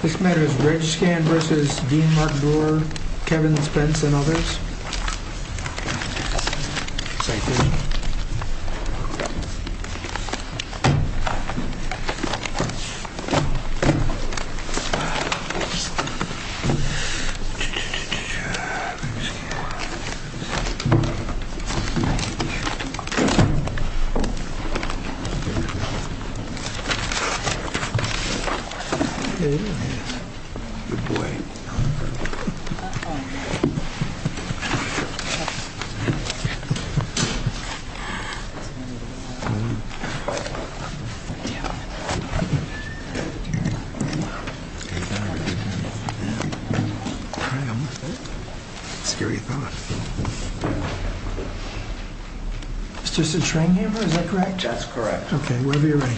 This matter is Regscan v. Dean Mark Breweretal, Kevin Spence, and others. Sight vision. Good boy. Good boy. Scary thought. It's just a train hammer, is that correct? That's correct. Okay, whenever you're ready.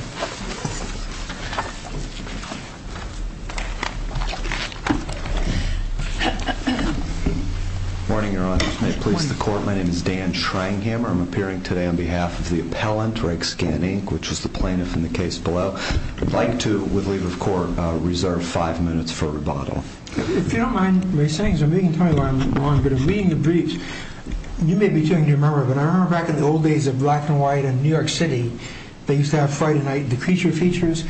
Morning, Your Honor. If you may please the court, my name is Dan Schreinghammer. I'm appearing today on behalf of the appellant, Regscan Inc., which is the plaintiff in the case below. I'd like to, with leave of court, reserve five minutes for rebuttal. If you don't mind my sayings, I'm making a point where I'm wrong, but in reading the briefs, you may be too young to remember, but I remember back in the old days of black and white in New York City, they used to have Friday night creature features,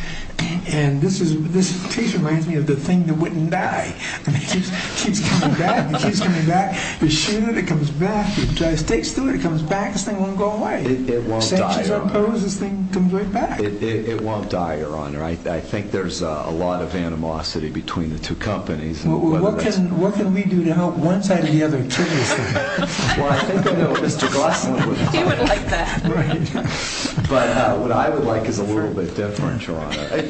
and this case reminds me of the thing that wouldn't die. It keeps coming back, it keeps coming back. You shoot it, it comes back. You drive stakes through it, it comes back. This thing won't go away. It won't die, Your Honor. Sanctions are imposed, this thing comes right back. It won't die, Your Honor. I think there's a lot of animosity between the two companies. Well, what can we do to help one side of the other turn this thing around? Well, I think Mr. Gosselin would like that. But what I would like is a little bit different, Your Honor.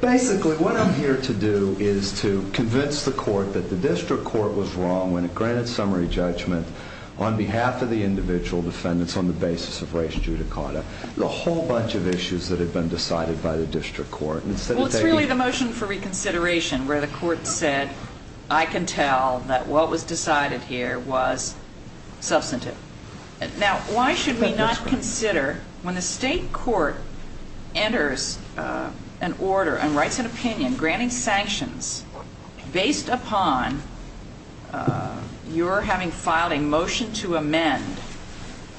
Basically, what I'm here to do is to convince the court that the district court was wrong when it granted summary judgment on behalf of the individual defendants on the basis of race and judicata. There's a whole bunch of issues that have been decided by the district court. Well, it's really the motion for reconsideration where the court said, I can tell that what was decided here was substantive. Now, why should we not consider when the state court enters an order and writes an opinion granting sanctions based upon your having filed a motion to amend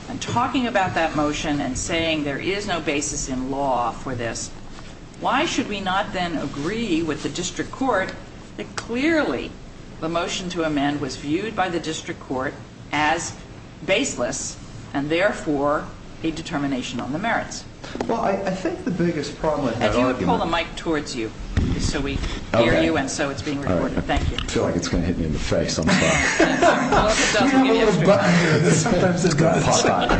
and talking about that motion and saying there is no basis in law for this, why should we not then agree with the district court that clearly the motion to amend was viewed by the district court as baseless and therefore a determination on the merits? Well, I think the biggest problem in that argument... If you would pull the mic towards you so we hear you and so it's being recorded. Thank you. I feel like it's going to hit me in the face. I'm sorry. Well, if it does, we'll give you a strip. Sometimes it's going to pop out. I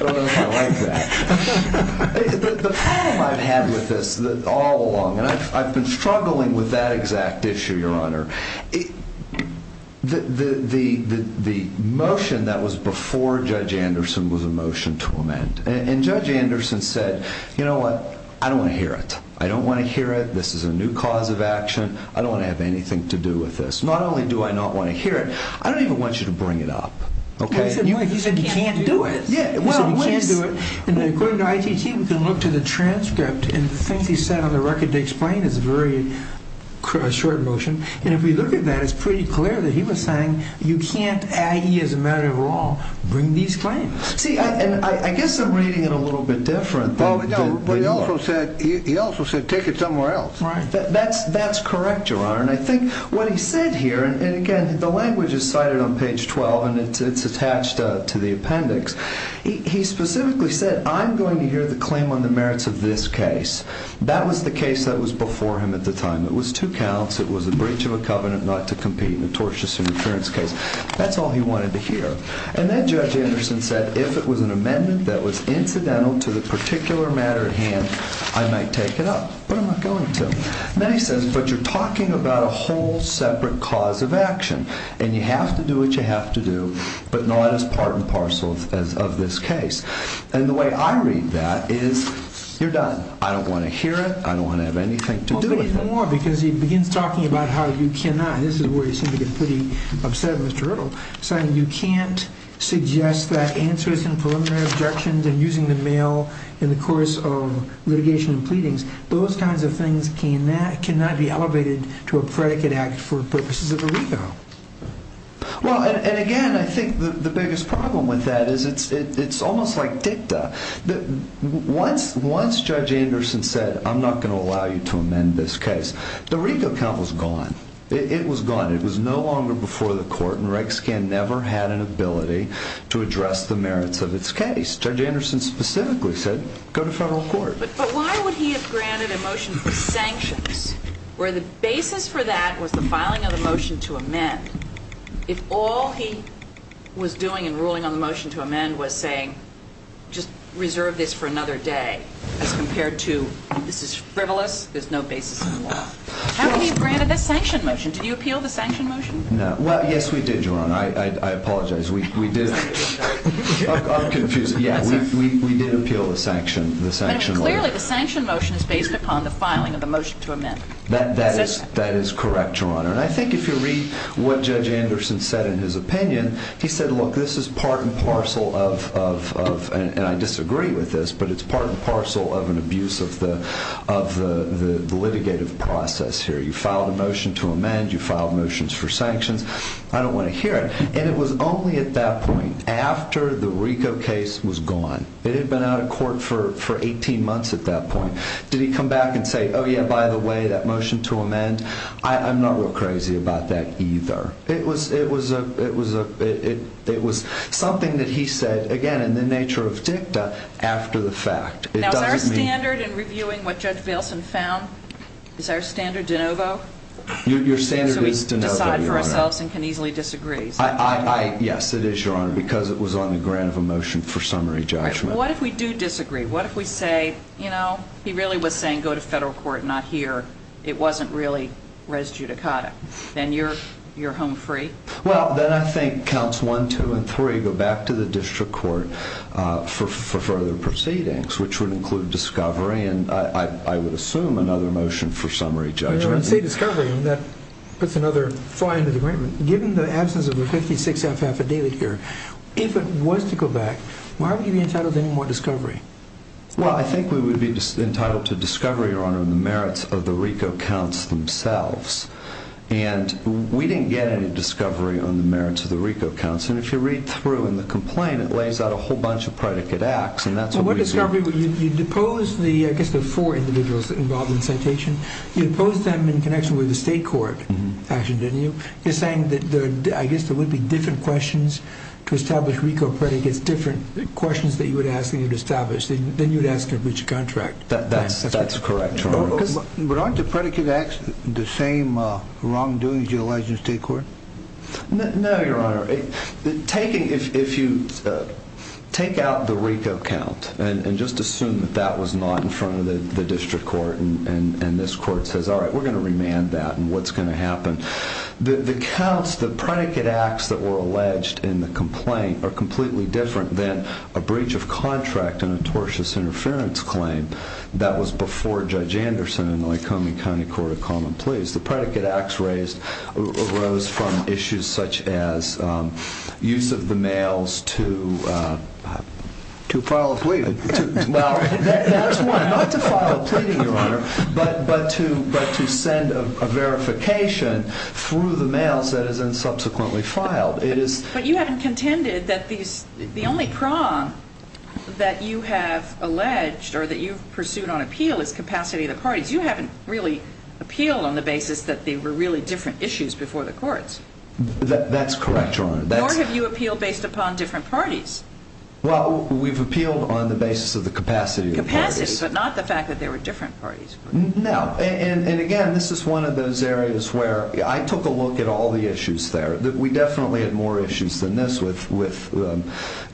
don't know if you'll like that. The problem I've had with this all along, and I've been struggling with that exact issue, Your Honor, the motion that was before Judge Anderson was a motion to amend. And Judge Anderson said, you know what? I don't want to hear it. I don't want to hear it. This is a new cause of action. I don't want to have anything to do with this. Not only do I not want to hear it, I don't even want you to bring it up. He said he can't do it. Yeah, he said he can't do it. And according to ITT, we can look to the transcript and the things he said on the record to explain is a very short motion. And if we look at that, it's pretty clear that he was saying you can't, as a matter of law, bring these claims. See, and I guess I'm reading it a little bit different. Well, he also said take it somewhere else. That's correct, Your Honor. And I think what he said here, and again, the language is cited on page 12, and it's attached to the appendix. He specifically said I'm going to hear the claim on the merits of this case. That was the case that was before him at the time. It was two counts. It was a breach of a covenant not to compete in a tortious interference case. That's all he wanted to hear. And then Judge Anderson said if it was an amendment that was incidental to the particular matter at hand, I might take it up. But I'm not going to. And then he says, but you're talking about a whole separate cause of action, and you have to do what you have to do, but not as part and parcel of this case. And the way I read that is you're done. I don't want to hear it. I don't want to have anything to do with it. Well, do it even more, because he begins talking about how you cannot. This is where you seem to get pretty upset, Mr. Riddle, saying you can't suggest that answers in preliminary objections and using the mail in the course of litigation and pleadings, those kinds of things cannot be elevated to a predicate act for purposes of a revo. Well, and again, I think the biggest problem with that is it's almost like dicta. Once Judge Anderson said, I'm not going to allow you to amend this case, the RICO count was gone. It was gone. It was no longer before the court, and Reg Scan never had an ability to address the merits of its case. Judge Anderson specifically said, go to federal court. But why would he have granted a motion for sanctions where the basis for that was the filing of the motion to amend, if all he was doing in ruling on the motion to amend was saying just reserve this for another day as compared to this is frivolous. There's no basis in the law. How could he have granted this sanction motion? Did you appeal the sanction motion? No. Well, yes, we did, Your Honor. I apologize. We did. I'm confused. Yeah, we did appeal the sanction law. Clearly, the sanction motion is based upon the filing of the motion to amend. That is correct, Your Honor. And I think if you read what Judge Anderson said in his opinion, he said, look, this is part and parcel of, and I disagree with this, but it's part and parcel of an abuse of the litigative process here. You filed a motion to amend. You filed motions for sanctions. I don't want to hear it. And it was only at that point, after the RICO case was gone, it had been out of court for 18 months at that point, did he come back and say, oh, yeah, by the way, that motion to amend, I'm not real crazy about that either. It was something that he said, again, in the nature of dicta, after the fact. Now, is our standard in reviewing what Judge Bailson found, is our standard de novo? Your standard is de novo, Your Honor. We can decide for ourselves and can easily disagree. Yes, it is, Your Honor, because it was on the ground of a motion for summary judgment. What if we do disagree? What if we say, you know, he really was saying go to federal court, not here. It wasn't really res judicata. Then you're home free. Well, then I think counts one, two, and three go back to the district court for further proceedings, which would include discovery, and I would assume another motion for summary judgment. When you say discovery, that puts another fly into the ointment. Given the absence of a 56-F affidavit here, if it was to go back, why would you be entitled to any more discovery? Well, I think we would be entitled to discovery, Your Honor, on the merits of the RICO counts themselves, and we didn't get any discovery on the merits of the RICO counts, and if you read through in the complaint, it lays out a whole bunch of predicate acts, and that's what we did. Well, discovery, you depose the, I guess, the four individuals involved in the citation. You depose them in connection with the state court action, didn't you? You're saying that, I guess, there would be different questions to establish RICO predicates, different questions that you would ask and you would establish. Then you would ask to breach a contract. That's correct, Your Honor. But aren't the predicate acts the same wrongdoing as you allege in the state court? No, Your Honor. If you take out the RICO count and just assume that that was not in front of the district court and this court says, all right, we're going to remand that and what's going to happen, the counts, the predicate acts that were alleged in the complaint, are completely different than a breach of contract and a tortious interference claim that was before Judge Anderson and the Lycoming County Court of Common Pleas. The predicate acts raised arose from issues such as use of the mails to file a plea. Well, that's one. Not to file a plea, Your Honor, but to send a verification through the mails that is then subsequently filed. But you haven't contended that the only prong that you have alleged or that you've pursued on appeal is capacity of the parties. You haven't really appealed on the basis that they were really different issues before the courts. That's correct, Your Honor. Nor have you appealed based upon different parties. Well, we've appealed on the basis of the capacity of the parties. Capacity, but not the fact that they were different parties. No, and again, this is one of those areas where I took a look at all the issues there. We definitely had more issues than this with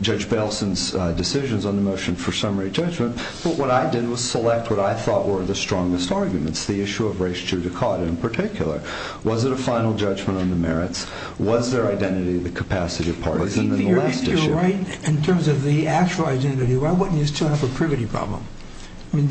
Judge Belson's decisions on the motion for summary judgment. But what I did was select what I thought were the strongest arguments, the issue of race judicata in particular. Was it a final judgment on the merits? Was their identity the capacity of partisan in the last issue? If you're right in terms of the actual identity, why wouldn't you still have a privity problem? I mean,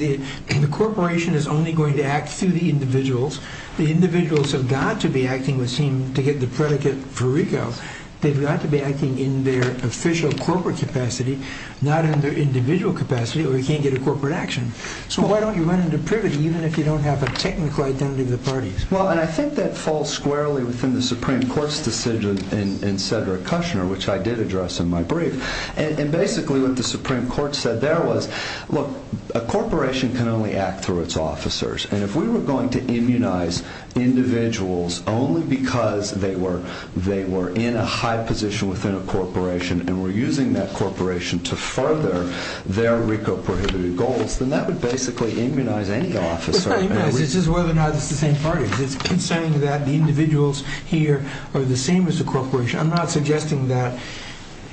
the corporation is only going to act through the individuals. The individuals have got to be acting, it would seem, to get the predicate for RICO. They've got to be acting in their official corporate capacity, not in their individual capacity, or you can't get a corporate action. So why don't you run into privity even if you don't have a technical identity of the parties? Well, and I think that falls squarely within the Supreme Court's decision in Cedric Kushner, which I did address in my brief. And basically what the Supreme Court said there was, look, a corporation can only act through its officers. And if we were going to immunize individuals only because they were in a high position within a corporation and were using that corporation to further their RICO prohibitive goals, then that would basically immunize any officer. It's not immunize, it's just whether or not it's the same party. It's saying that the individuals here are the same as the corporation. I'm not suggesting that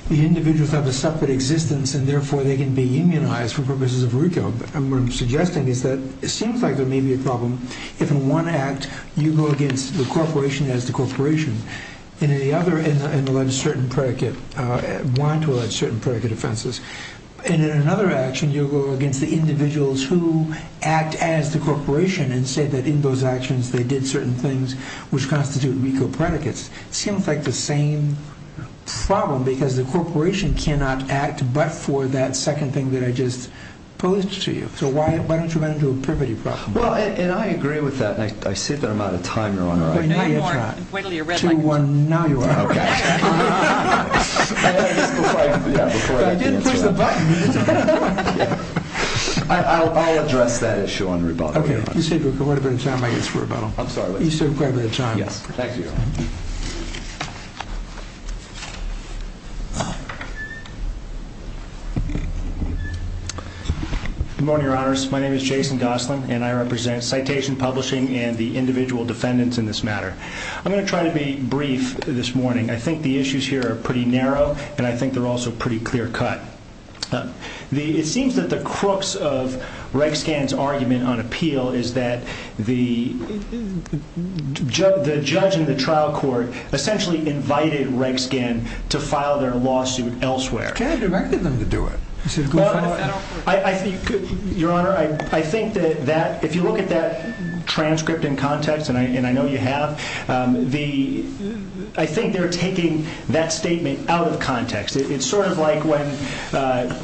the individuals have a separate existence and therefore they can be immunized for purposes of RICO. What I'm suggesting is that it seems like there may be a problem if in one act you go against the corporation as the corporation and in the other want to allege certain predicate offenses, and in another action you go against the individuals who act as the corporation and say that in those actions they did certain things which constitute RICO predicates. It seems like the same problem because the corporation cannot act but for that second thing that I just posed to you. So why don't you run into a privity problem? Well, and I agree with that, and I see that I'm out of time, Your Honor. No, you're not. Wait until you're red lighted. Two, one, now you are. Okay. I didn't push the button. I'll address that issue on rebuttal, Your Honor. Okay. You saved quite a bit of time, I guess, for rebuttal. I'm sorry. You saved quite a bit of time. Yes. Thank you. Good morning, Your Honors. My name is Jason Gosselin, and I represent Citation Publishing and the individual defendants in this matter. I'm going to try to be brief this morning. I think the issues here are pretty narrow, and I think they're also pretty clear cut. It seems that the crooks of Reg Scan's argument on appeal is that the judge in the trial court essentially invited Reg Scan to file their lawsuit elsewhere. You can't have directed them to do it. Your Honor, I think that if you look at that transcript in context, and I know you have, I think they're taking that statement out of context. It's sort of like when,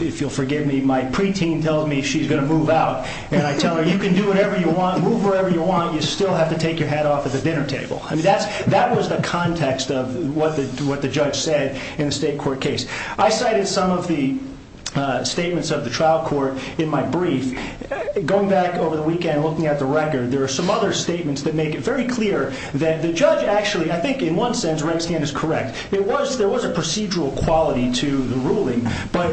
if you'll forgive me, my preteen tells me she's going to move out, and I tell her, you can do whatever you want, move wherever you want, you still have to take your hat off at the dinner table. That was the context of what the judge said in the state court case. I cited some of the statements of the trial court in my brief. Going back over the weekend, looking at the record, there are some other statements that make it very clear that the judge actually, I think in one sense, Reg Scan is correct. There was a procedural quality to the ruling, but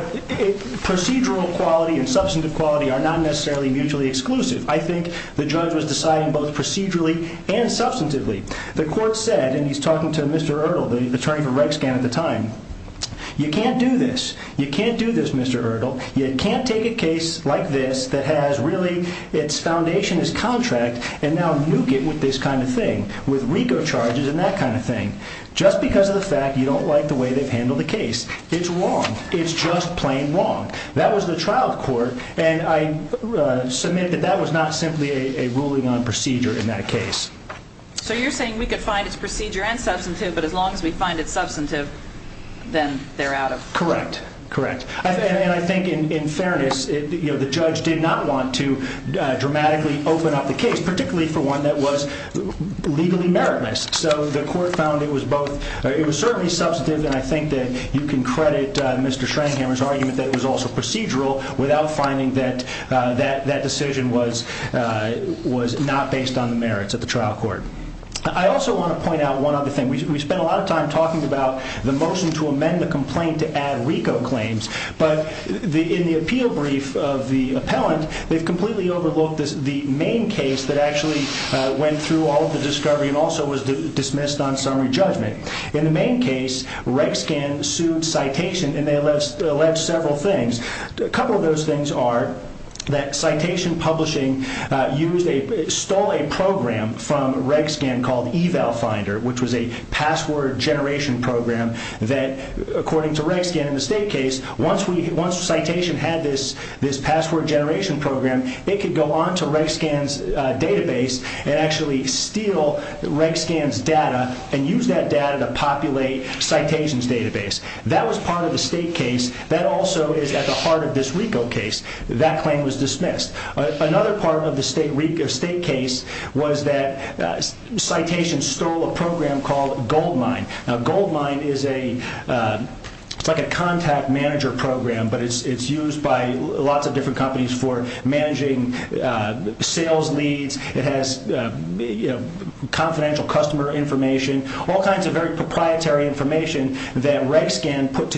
procedural quality and substantive quality are not necessarily mutually exclusive. I think the judge was deciding both procedurally and substantively. The court said, and he's talking to Mr. Ertle, the attorney for Reg Scan at the time, you can't do this. You can't do this, Mr. Ertle. You can't take a case like this that has really its foundation as contract and now nuke it with this kind of thing, with RICO charges and that kind of thing, just because of the fact you don't like the way they've handled the case. It's wrong. It's just plain wrong. That was the trial court, and I submit that that was not simply a ruling on procedure in that case. So you're saying we could find its procedure and substantive, but as long as we find it substantive, then they're out of court? Correct. Correct. And I think in fairness, the judge did not want to dramatically open up the case, particularly for one that was legally meritless. So the court found it was both. It was certainly substantive, and I think that you can credit Mr. Schreinghammer's argument that it was also procedural, without finding that that decision was not based on the merits of the trial court. I also want to point out one other thing. We spent a lot of time talking about the motion to amend the complaint to add RICO claims, but in the appeal brief of the appellant, they've completely overlooked the main case that actually went through all of the discovery and also was dismissed on summary judgment. In the main case, RegScan sued Citation, and they alleged several things. A couple of those things are that Citation Publishing stole a program from RegScan called eValFinder, which was a password generation program that, according to RegScan in the state case, once Citation had this password generation program, it could go on to RegScan's database and actually steal RegScan's data and use that data to populate Citation's database. That was part of the state case. That also is at the heart of this RICO case. That claim was dismissed. Another part of the state case was that Citation stole a program called Goldmine. Now, Goldmine is like a contact manager program, but it's used by lots of different companies for managing sales leads. It has confidential customer information, all kinds of very proprietary information that RegScan put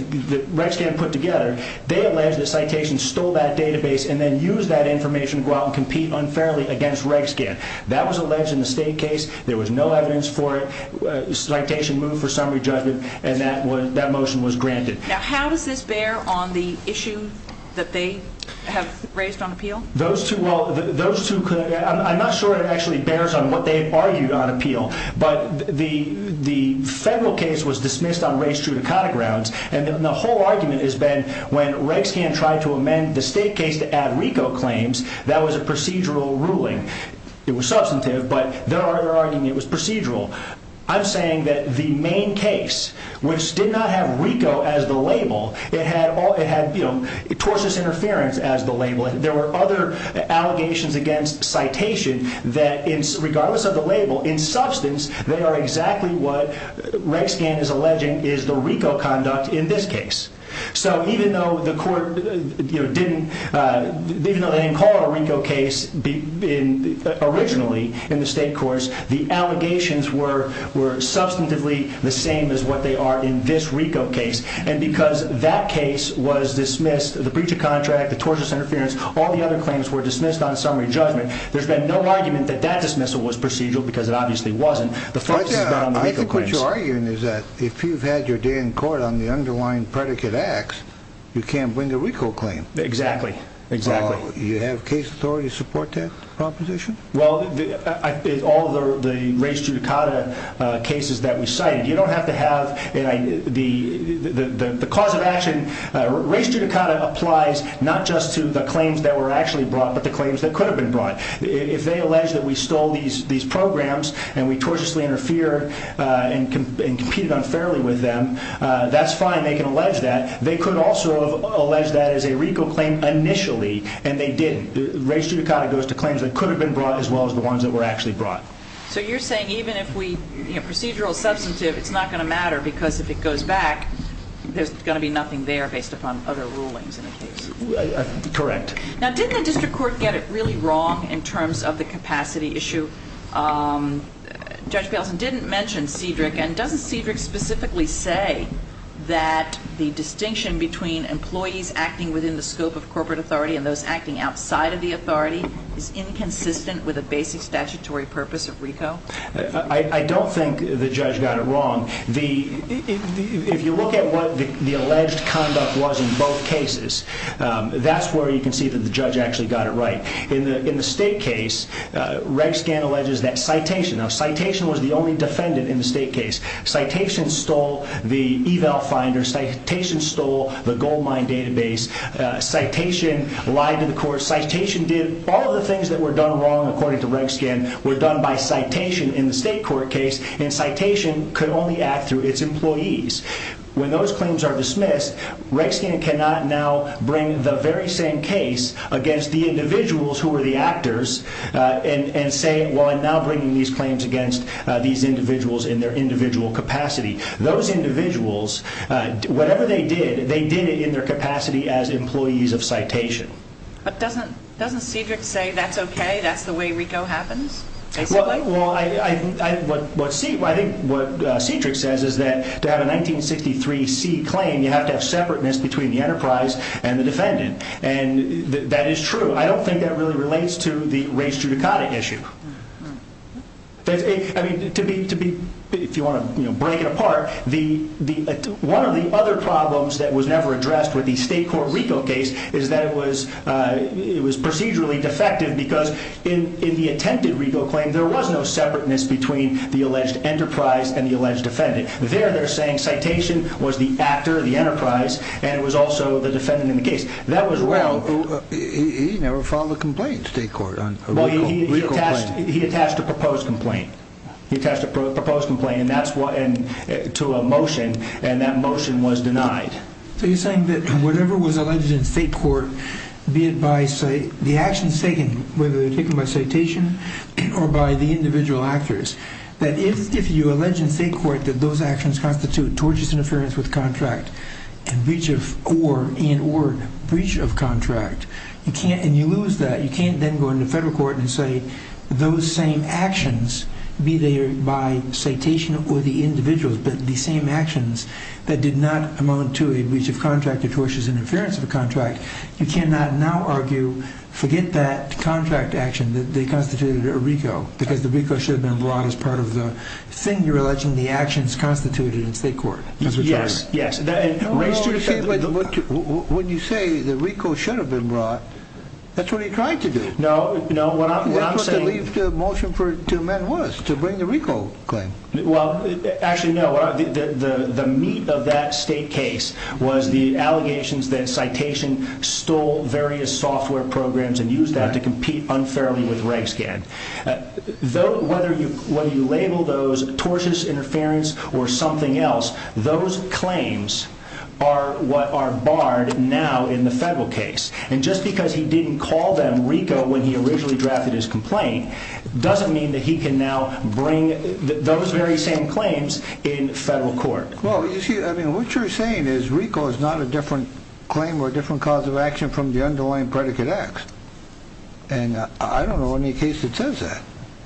together. They alleged that Citation stole that database and then used that information to go out and compete unfairly against RegScan. That was alleged in the state case. There was no evidence for it. Citation moved for summary judgment, and that motion was granted. Now, how does this bear on the issue that they have raised on appeal? I'm not sure it actually bears on what they've argued on appeal, but the federal case was dismissed on race-true-to-cotta grounds, and the whole argument has been when RegScan tried to amend the state case to add RICO claims, that was a procedural ruling. It was substantive, but their argument was procedural. I'm saying that the main case, which did not have RICO as the label, it had torsus interference as the label. There were other allegations against Citation that, regardless of the label, in substance, they are exactly what RegScan is alleging is the RICO conduct in this case. So even though the court didn't call it a RICO case originally in the state courts, the allegations were substantively the same as what they are in this RICO case, and because that case was dismissed, the breach of contract, the torsus interference, all the other claims were dismissed on summary judgment. There's been no argument that that dismissal was procedural because it obviously wasn't. The focus has been on the RICO claims. I think what you're arguing is that if you've had your day in court on the underlying predicate acts, you can't bring a RICO claim. Exactly. You have case authority to support that proposition? Well, all the race-true-to-cotta cases that we cited, you don't have to have the cause of action. Race-true-to-cotta applies not just to the claims that were actually brought but the claims that could have been brought. If they allege that we stole these programs and we tortiously interfered and competed unfairly with them, that's fine. They can allege that. They could also have alleged that as a RICO claim initially, and they didn't. Race-true-to-cotta goes to claims that could have been brought as well as the ones that were actually brought. So you're saying even if we, you know, procedural substantive, it's not going to matter because if it goes back, there's going to be nothing there based upon other rulings in the case? Correct. Now, didn't the district court get it really wrong in terms of the capacity issue? Judge Balesen didn't mention Cedric, and doesn't Cedric specifically say that the distinction between employees acting within the scope of corporate authority and those acting outside of the authority is inconsistent with a basic statutory purpose of RICO? I don't think the judge got it wrong. If you look at what the alleged conduct was in both cases, that's where you can see that the judge actually got it right. In the state case, Reg Scan alleges that citation. Now, citation was the only defendant in the state case. Citation stole the eval finder. Citation stole the gold mine database. Citation lied to the court. Citation did all of the things that were done wrong, according to Reg Scan, were done by citation in the state court case, and citation could only act through its employees. When those claims are dismissed, Reg Scan cannot now bring the very same case against the individuals who were the actors and say, well, I'm now bringing these claims against these individuals in their individual capacity. Those individuals, whatever they did, they did it in their capacity as employees of citation. But doesn't Cedric say that's okay, that's the way RICO happens? Well, I think what Cedric says is that to have a 1963C claim, you have to have separateness between the enterprise and the defendant. And that is true. I don't think that really relates to the race judicata issue. I mean, to be, if you want to break it apart, one of the other problems that was never addressed with the state court RICO case is that it was procedurally defective because in the attempted RICO claim, there was no separateness between the alleged enterprise and the alleged defendant. There they're saying citation was the actor, the enterprise, and it was also the defendant in the case. Well, he never filed a complaint in state court on a RICO claim. Well, he attached a proposed complaint. He attached a proposed complaint to a motion, and that motion was denied. So you're saying that whatever was alleged in state court, be it by the actions taken, whether they're taken by citation or by the individual actors, that if you allege in state court that those actions constitute tortious interference with contract and or breach of contract, and you lose that, you can't then go into federal court and say those same actions, be they by citation or the individuals, but the same actions that did not amount to a breach of contract or tortious interference of a contract, you cannot now argue forget that contract action that they constituted a RICO because the RICO should have been brought as part of the thing you're alleging the actions constituted in state court. Yes, yes. When you say the RICO should have been brought, that's what he tried to do. No, no. What I'm saying is the motion to amend was to bring the RICO claim. Well, actually, no. The meat of that state case was the allegations that citation stole various software programs and used that to compete unfairly with Reg Scan. Whether you label those tortious interference or something else, those claims are what are barred now in the federal case. And just because he didn't call them RICO when he originally drafted his complaint doesn't mean that he can now bring those very same claims in federal court. Well, you see, I mean, what you're saying is RICO is not a different claim or a different cause of action from the underlying predicate X. And I don't know any case that says that.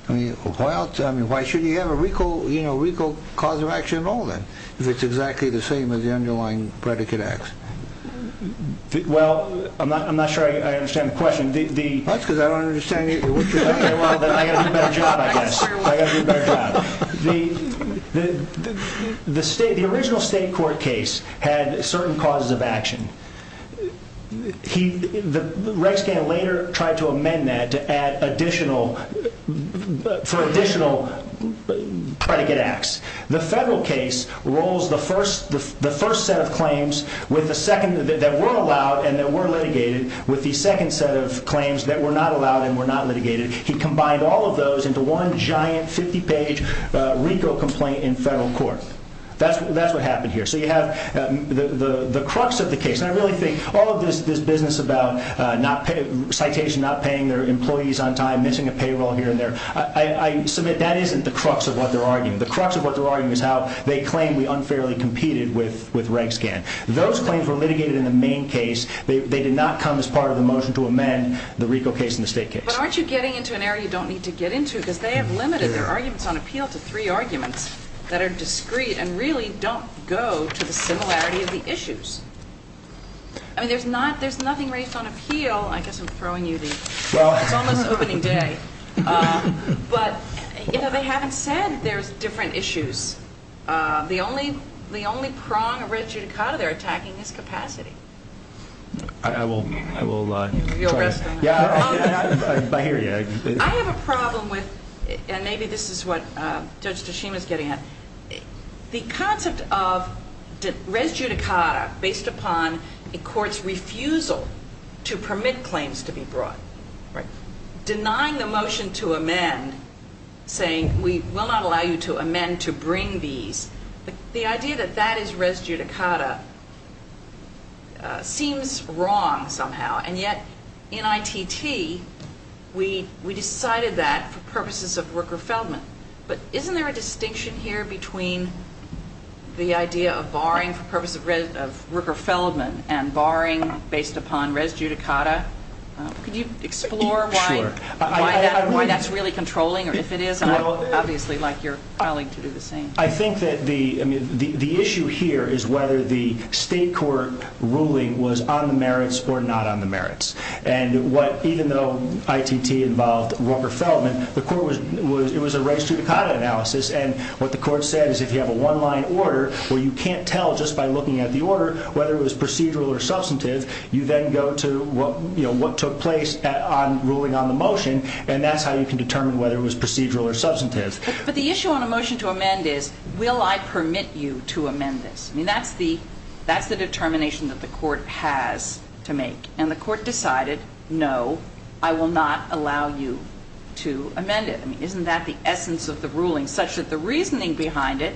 I mean, why should you have a RICO cause of action at all then if it's exactly the same as the underlying predicate X? Well, I'm not sure I understand the question. That's because I don't understand you. Okay, well, then I've got to do a better job, I guess. I've got to do a better job. The original state court case had certain causes of action. Reg Scan later tried to amend that for additional predicate X. The federal case rolls the first set of claims that were allowed and that were litigated with the second set of claims that were not allowed and were not litigated. He combined all of those into one giant 50-page RICO complaint in federal court. That's what happened here. So you have the crux of the case. And I really think all of this business about citation not paying their employees on time, missing a payroll here and there, I submit that isn't the crux of what they're arguing. The crux of what they're arguing is how they claim we unfairly competed with Reg Scan. Those claims were litigated in the main case. They did not come as part of the motion to amend the RICO case and the state case. But aren't you getting into an area you don't need to get into? Because they have limited their arguments on appeal to three arguments that are discreet and really don't go to the similarity of the issues. I mean, there's nothing raised on appeal. I guess I'm throwing you the – it's almost opening day. But, you know, they haven't said there's different issues. The only prong of res judicata they're attacking is capacity. I will try to – You'll rest on that. I have a problem with – and maybe this is what Judge Tashima is getting at. The concept of res judicata based upon a court's refusal to permit claims to be brought, denying the motion to amend, saying we will not allow you to amend to bring these, the idea that that is res judicata seems wrong somehow. And yet in ITT we decided that for purposes of Rooker-Feldman. But isn't there a distinction here between the idea of barring for purposes of Rooker-Feldman and barring based upon res judicata? Could you explore why that's really controlling? Or if it is, I'd obviously like your colleague to do the same. I think that the issue here is whether the state court ruling was on the merits or not on the merits. And even though ITT involved Rooker-Feldman, the court was – it was a res judicata analysis. And what the court said is if you have a one-line order where you can't tell just by looking at the order whether it was procedural or substantive, you then go to what took place on ruling on the motion, and that's how you can determine whether it was procedural or substantive. But the issue on a motion to amend is will I permit you to amend this? I mean, that's the determination that the court has to make. And the court decided no, I will not allow you to amend it. I mean, isn't that the essence of the ruling such that the reasoning behind it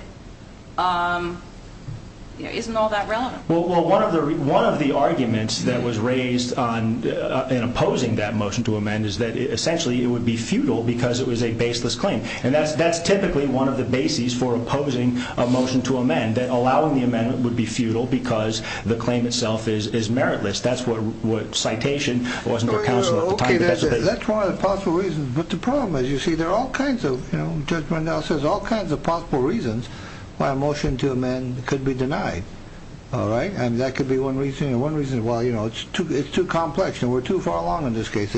isn't all that relevant? Well, one of the arguments that was raised in opposing that motion to amend is that essentially it would be futile because it was a baseless claim. And that's typically one of the bases for opposing a motion to amend, that allowing the amendment would be futile because the claim itself is meritless. That's what citation wasn't for counsel at the time. That's one of the possible reasons. But the problem, as you see, there are all kinds of, Judge Rundell says, all kinds of possible reasons why a motion to amend could be denied. And that could be one reason. One reason is, well, it's too complex and we're too far along in this case.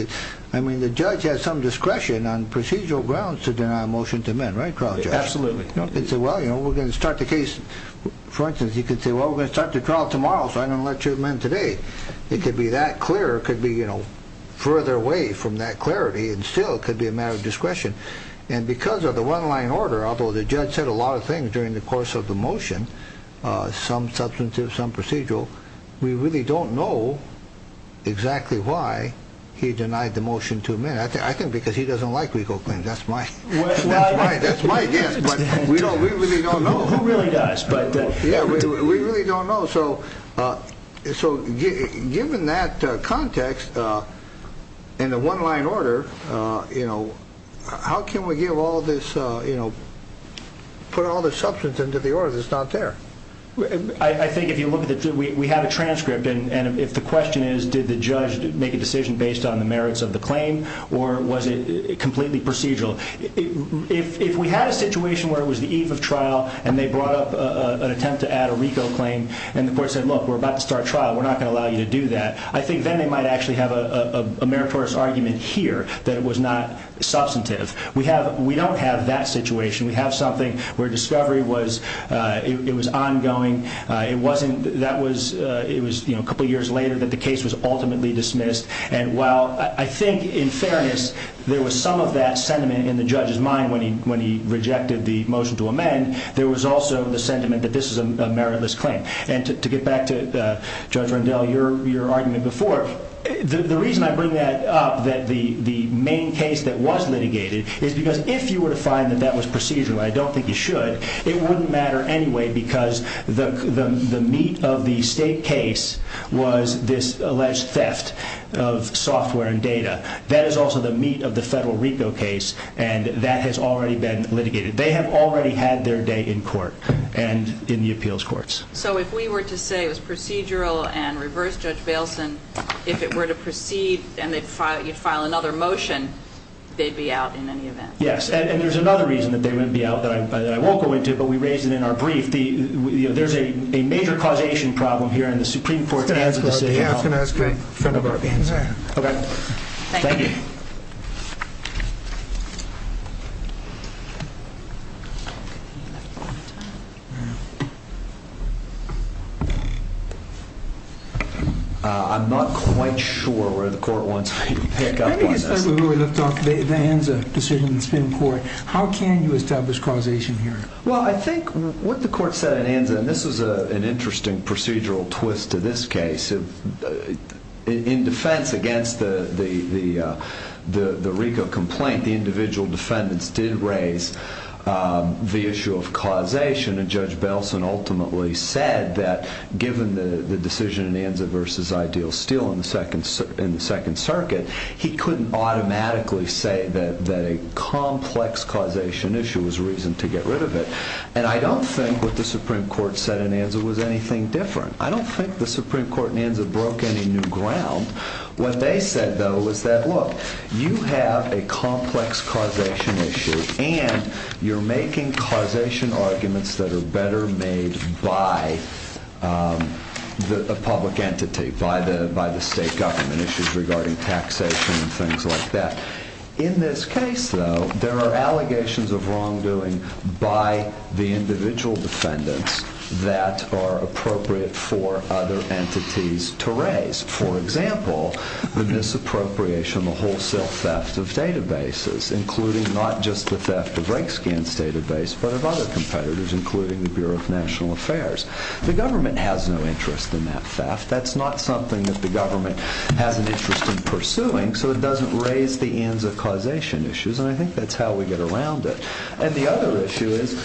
I mean, the judge has some discretion on procedural grounds to deny a motion to amend, right, trial judge? Absolutely. Well, we're going to start the case. For instance, you could say, well, we're going to start the trial tomorrow, so I'm going to let you amend today. It could be that clear. It could be further away from that clarity and still could be a matter of discretion. And because of the one-line order, although the judge said a lot of things during the course of the motion, some substantive, some procedural, we really don't know exactly why he denied the motion to amend. I think because he doesn't like legal claims. That's my guess, but we really don't know. He really does. Yeah, we really don't know. So given that context and the one-line order, you know, how can we give all this, you know, put all this substance into the order that's not there? I think if you look at it, we have a transcript, and if the question is, did the judge make a decision based on the merits of the claim or was it completely procedural? If we had a situation where it was the eve of trial and they brought up an attempt to add a RICO claim and the court said, look, we're about to start trial, we're not going to allow you to do that, I think then they might actually have a meritorious argument here that it was not substantive. We don't have that situation. We have something where discovery was ongoing. It wasn't that it was a couple years later that the case was ultimately dismissed. And while I think in fairness there was some of that sentiment in the judge's mind when he rejected the motion to amend, there was also the sentiment that this is a meritless claim. And to get back to Judge Rendell, your argument before, the reason I bring that up, that the main case that was litigated, is because if you were to find that that was procedural, and I don't think you should, it wouldn't matter anyway because the meat of the state case was this alleged theft of software and data. That is also the meat of the federal RICO case and that has already been litigated. They have already had their day in court and in the appeals courts. So if we were to say it was procedural and reverse Judge Bailson, if it were to proceed and you'd file another motion, they'd be out in any event? Yes, and there's another reason that they wouldn't be out that I won't go into, but we raised it in our brief. There's a major causation problem here in the Supreme Court. I was going to ask that in front of our panel. Okay, thank you. I'm not quite sure where the court wants me to pick up on this. When we looked at the Anza decision in the Supreme Court, how can you establish causation here? Well, I think what the court said in Anza, and this was an interesting procedural twist to this case, in defense against the RICO complaint, the individual defendants did raise the issue of causation and Judge Bailson ultimately said that given the decision in Anza versus Ideal Steel in the Second Circuit, he couldn't automatically say that a complex causation issue was a reason to get rid of it. And I don't think what the Supreme Court said in Anza was anything different. I don't think the Supreme Court in Anza broke any new ground. What they said, though, was that, look, you have a complex causation issue and you're making causation arguments that are better made by the public entity, by the state government issues regarding taxation and things like that. In this case, though, there are allegations of wrongdoing by the individual defendants that are appropriate for other entities to raise. For example, the misappropriation, the wholesale theft of databases, including not just the theft of Rakescan's database, but of other competitors, including the Bureau of National Affairs. The government has no interest in that theft. That's not something that the government has an interest in pursuing, so it doesn't raise the Anza causation issues, and I think that's how we get around it. And the other issue is,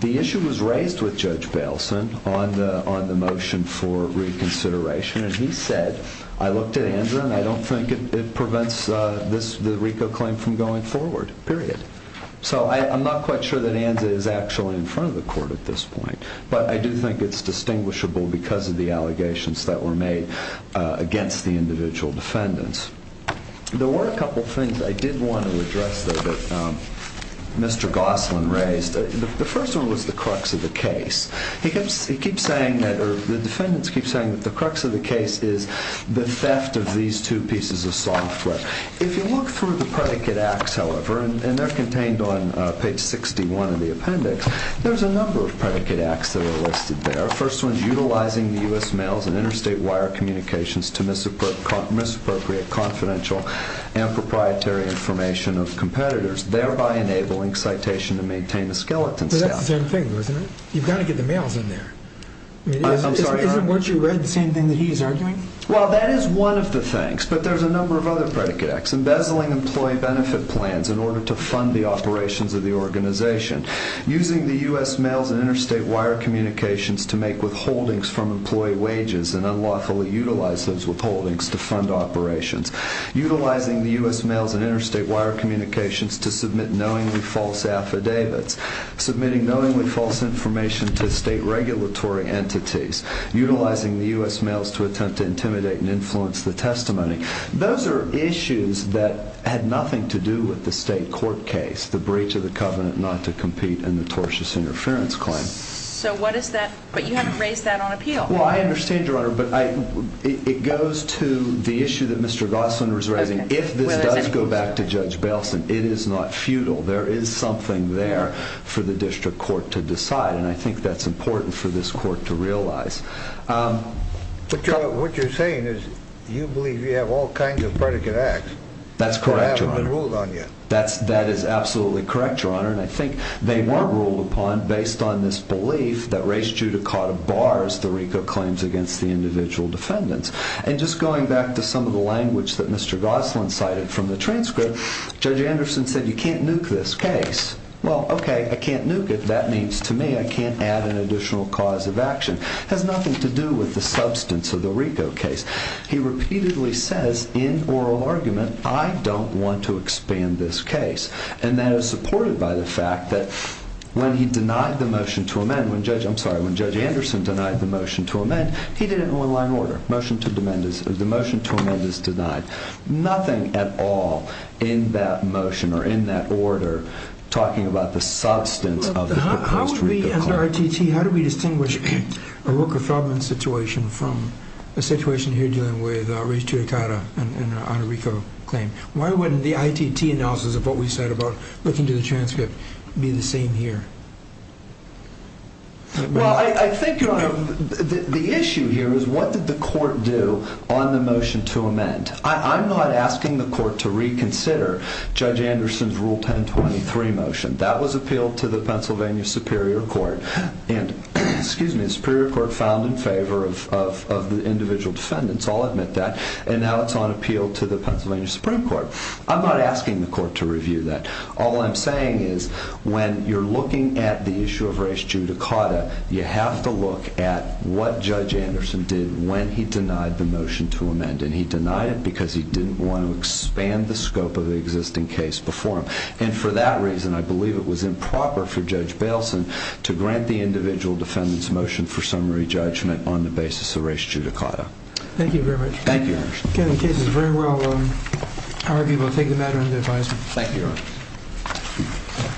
the issue was raised with Judge Bailson on the motion for reconsideration, and he said, I looked at Anza and I don't think it prevents the RICO claim from going forward, period. So I'm not quite sure that Anza is actually in front of the court at this point, but I do think it's distinguishable because of the allegations that were made against the individual defendants. There were a couple of things I did want to address, though, that Mr. Gosselin raised. The first one was the crux of the case. He keeps saying that, or the defendants keep saying that, the crux of the case is the theft of these two pieces of software. If you look through the predicate acts, however, and they're contained on page 61 of the appendix, there's a number of predicate acts that are listed there. The first one is utilizing the U.S. mails and interstate wire communications to misappropriate confidential and proprietary information of competitors, thereby enabling citation to maintain the skeleton staff. But that's the same thing, isn't it? You've got to get the mails in there. Isn't what you read the same thing that he's arguing? Well, that is one of the things, but there's a number of other predicate acts, embezzling employee benefit plans in order to fund the operations of the organization, using the U.S. mails and interstate wire communications to make withholdings from employee wages and unlawfully utilize those withholdings to fund operations, utilizing the U.S. mails and interstate wire communications to submit knowingly false affidavits, submitting knowingly false information to state regulatory entities, utilizing the U.S. mails to attempt to intimidate and influence the testimony. Those are issues that had nothing to do with the state court case, and that's the breach of the covenant not to compete in the tortious interference claim. So what is that? But you haven't raised that on appeal. Well, I understand, Your Honor, but it goes to the issue that Mr. Gosling was raising. If this does go back to Judge Bailson, it is not futile. There is something there for the district court to decide, and I think that's important for this court to realize. But, Your Honor, what you're saying is you believe you have all kinds of predicate acts. That's correct, Your Honor. But they haven't been ruled on yet. That is absolutely correct, Your Honor, and I think they weren't ruled upon based on this belief that raised judicata bars, the RICO claims against the individual defendants. And just going back to some of the language that Mr. Gosling cited from the transcript, Judge Anderson said you can't nuke this case. Well, okay, I can't nuke it. That means to me I can't add an additional cause of action. It has nothing to do with the substance of the RICO case. He repeatedly says in oral argument, I don't want to expand this case, and that is supported by the fact that when he denied the motion to amend, I'm sorry, when Judge Anderson denied the motion to amend, he did it in one-line order. The motion to amend is denied. Nothing at all in that motion or in that order talking about the substance of the proposed RICO claim. How would we as an ITT, how do we distinguish a Rooker-Feldman situation from a situation here dealing with raised judicata and an RICO claim? Why wouldn't the ITT analysis of what we said about looking to the transcript be the same here? Well, I think, Your Honor, the issue here is what did the court do on the motion to amend? I'm not asking the court to reconsider Judge Anderson's Rule 1023 motion. That was appealed to the Pennsylvania Superior Court, and the Superior Court filed in favor of the individual defendants. I'll admit that. And now it's on appeal to the Pennsylvania Supreme Court. I'm not asking the court to review that. All I'm saying is when you're looking at the issue of raised judicata, you have to look at what Judge Anderson did when he denied the motion to amend, and he denied it because he didn't want to expand the scope of the existing case before him. And for that reason, I believe it was improper for Judge Bailson to grant the individual defendants' motion for summary judgment on the basis of raised judicata. Thank you very much. Thank you, Your Honor. The case is very well argued. We'll take the matter into advisement. Thank you, Your Honor.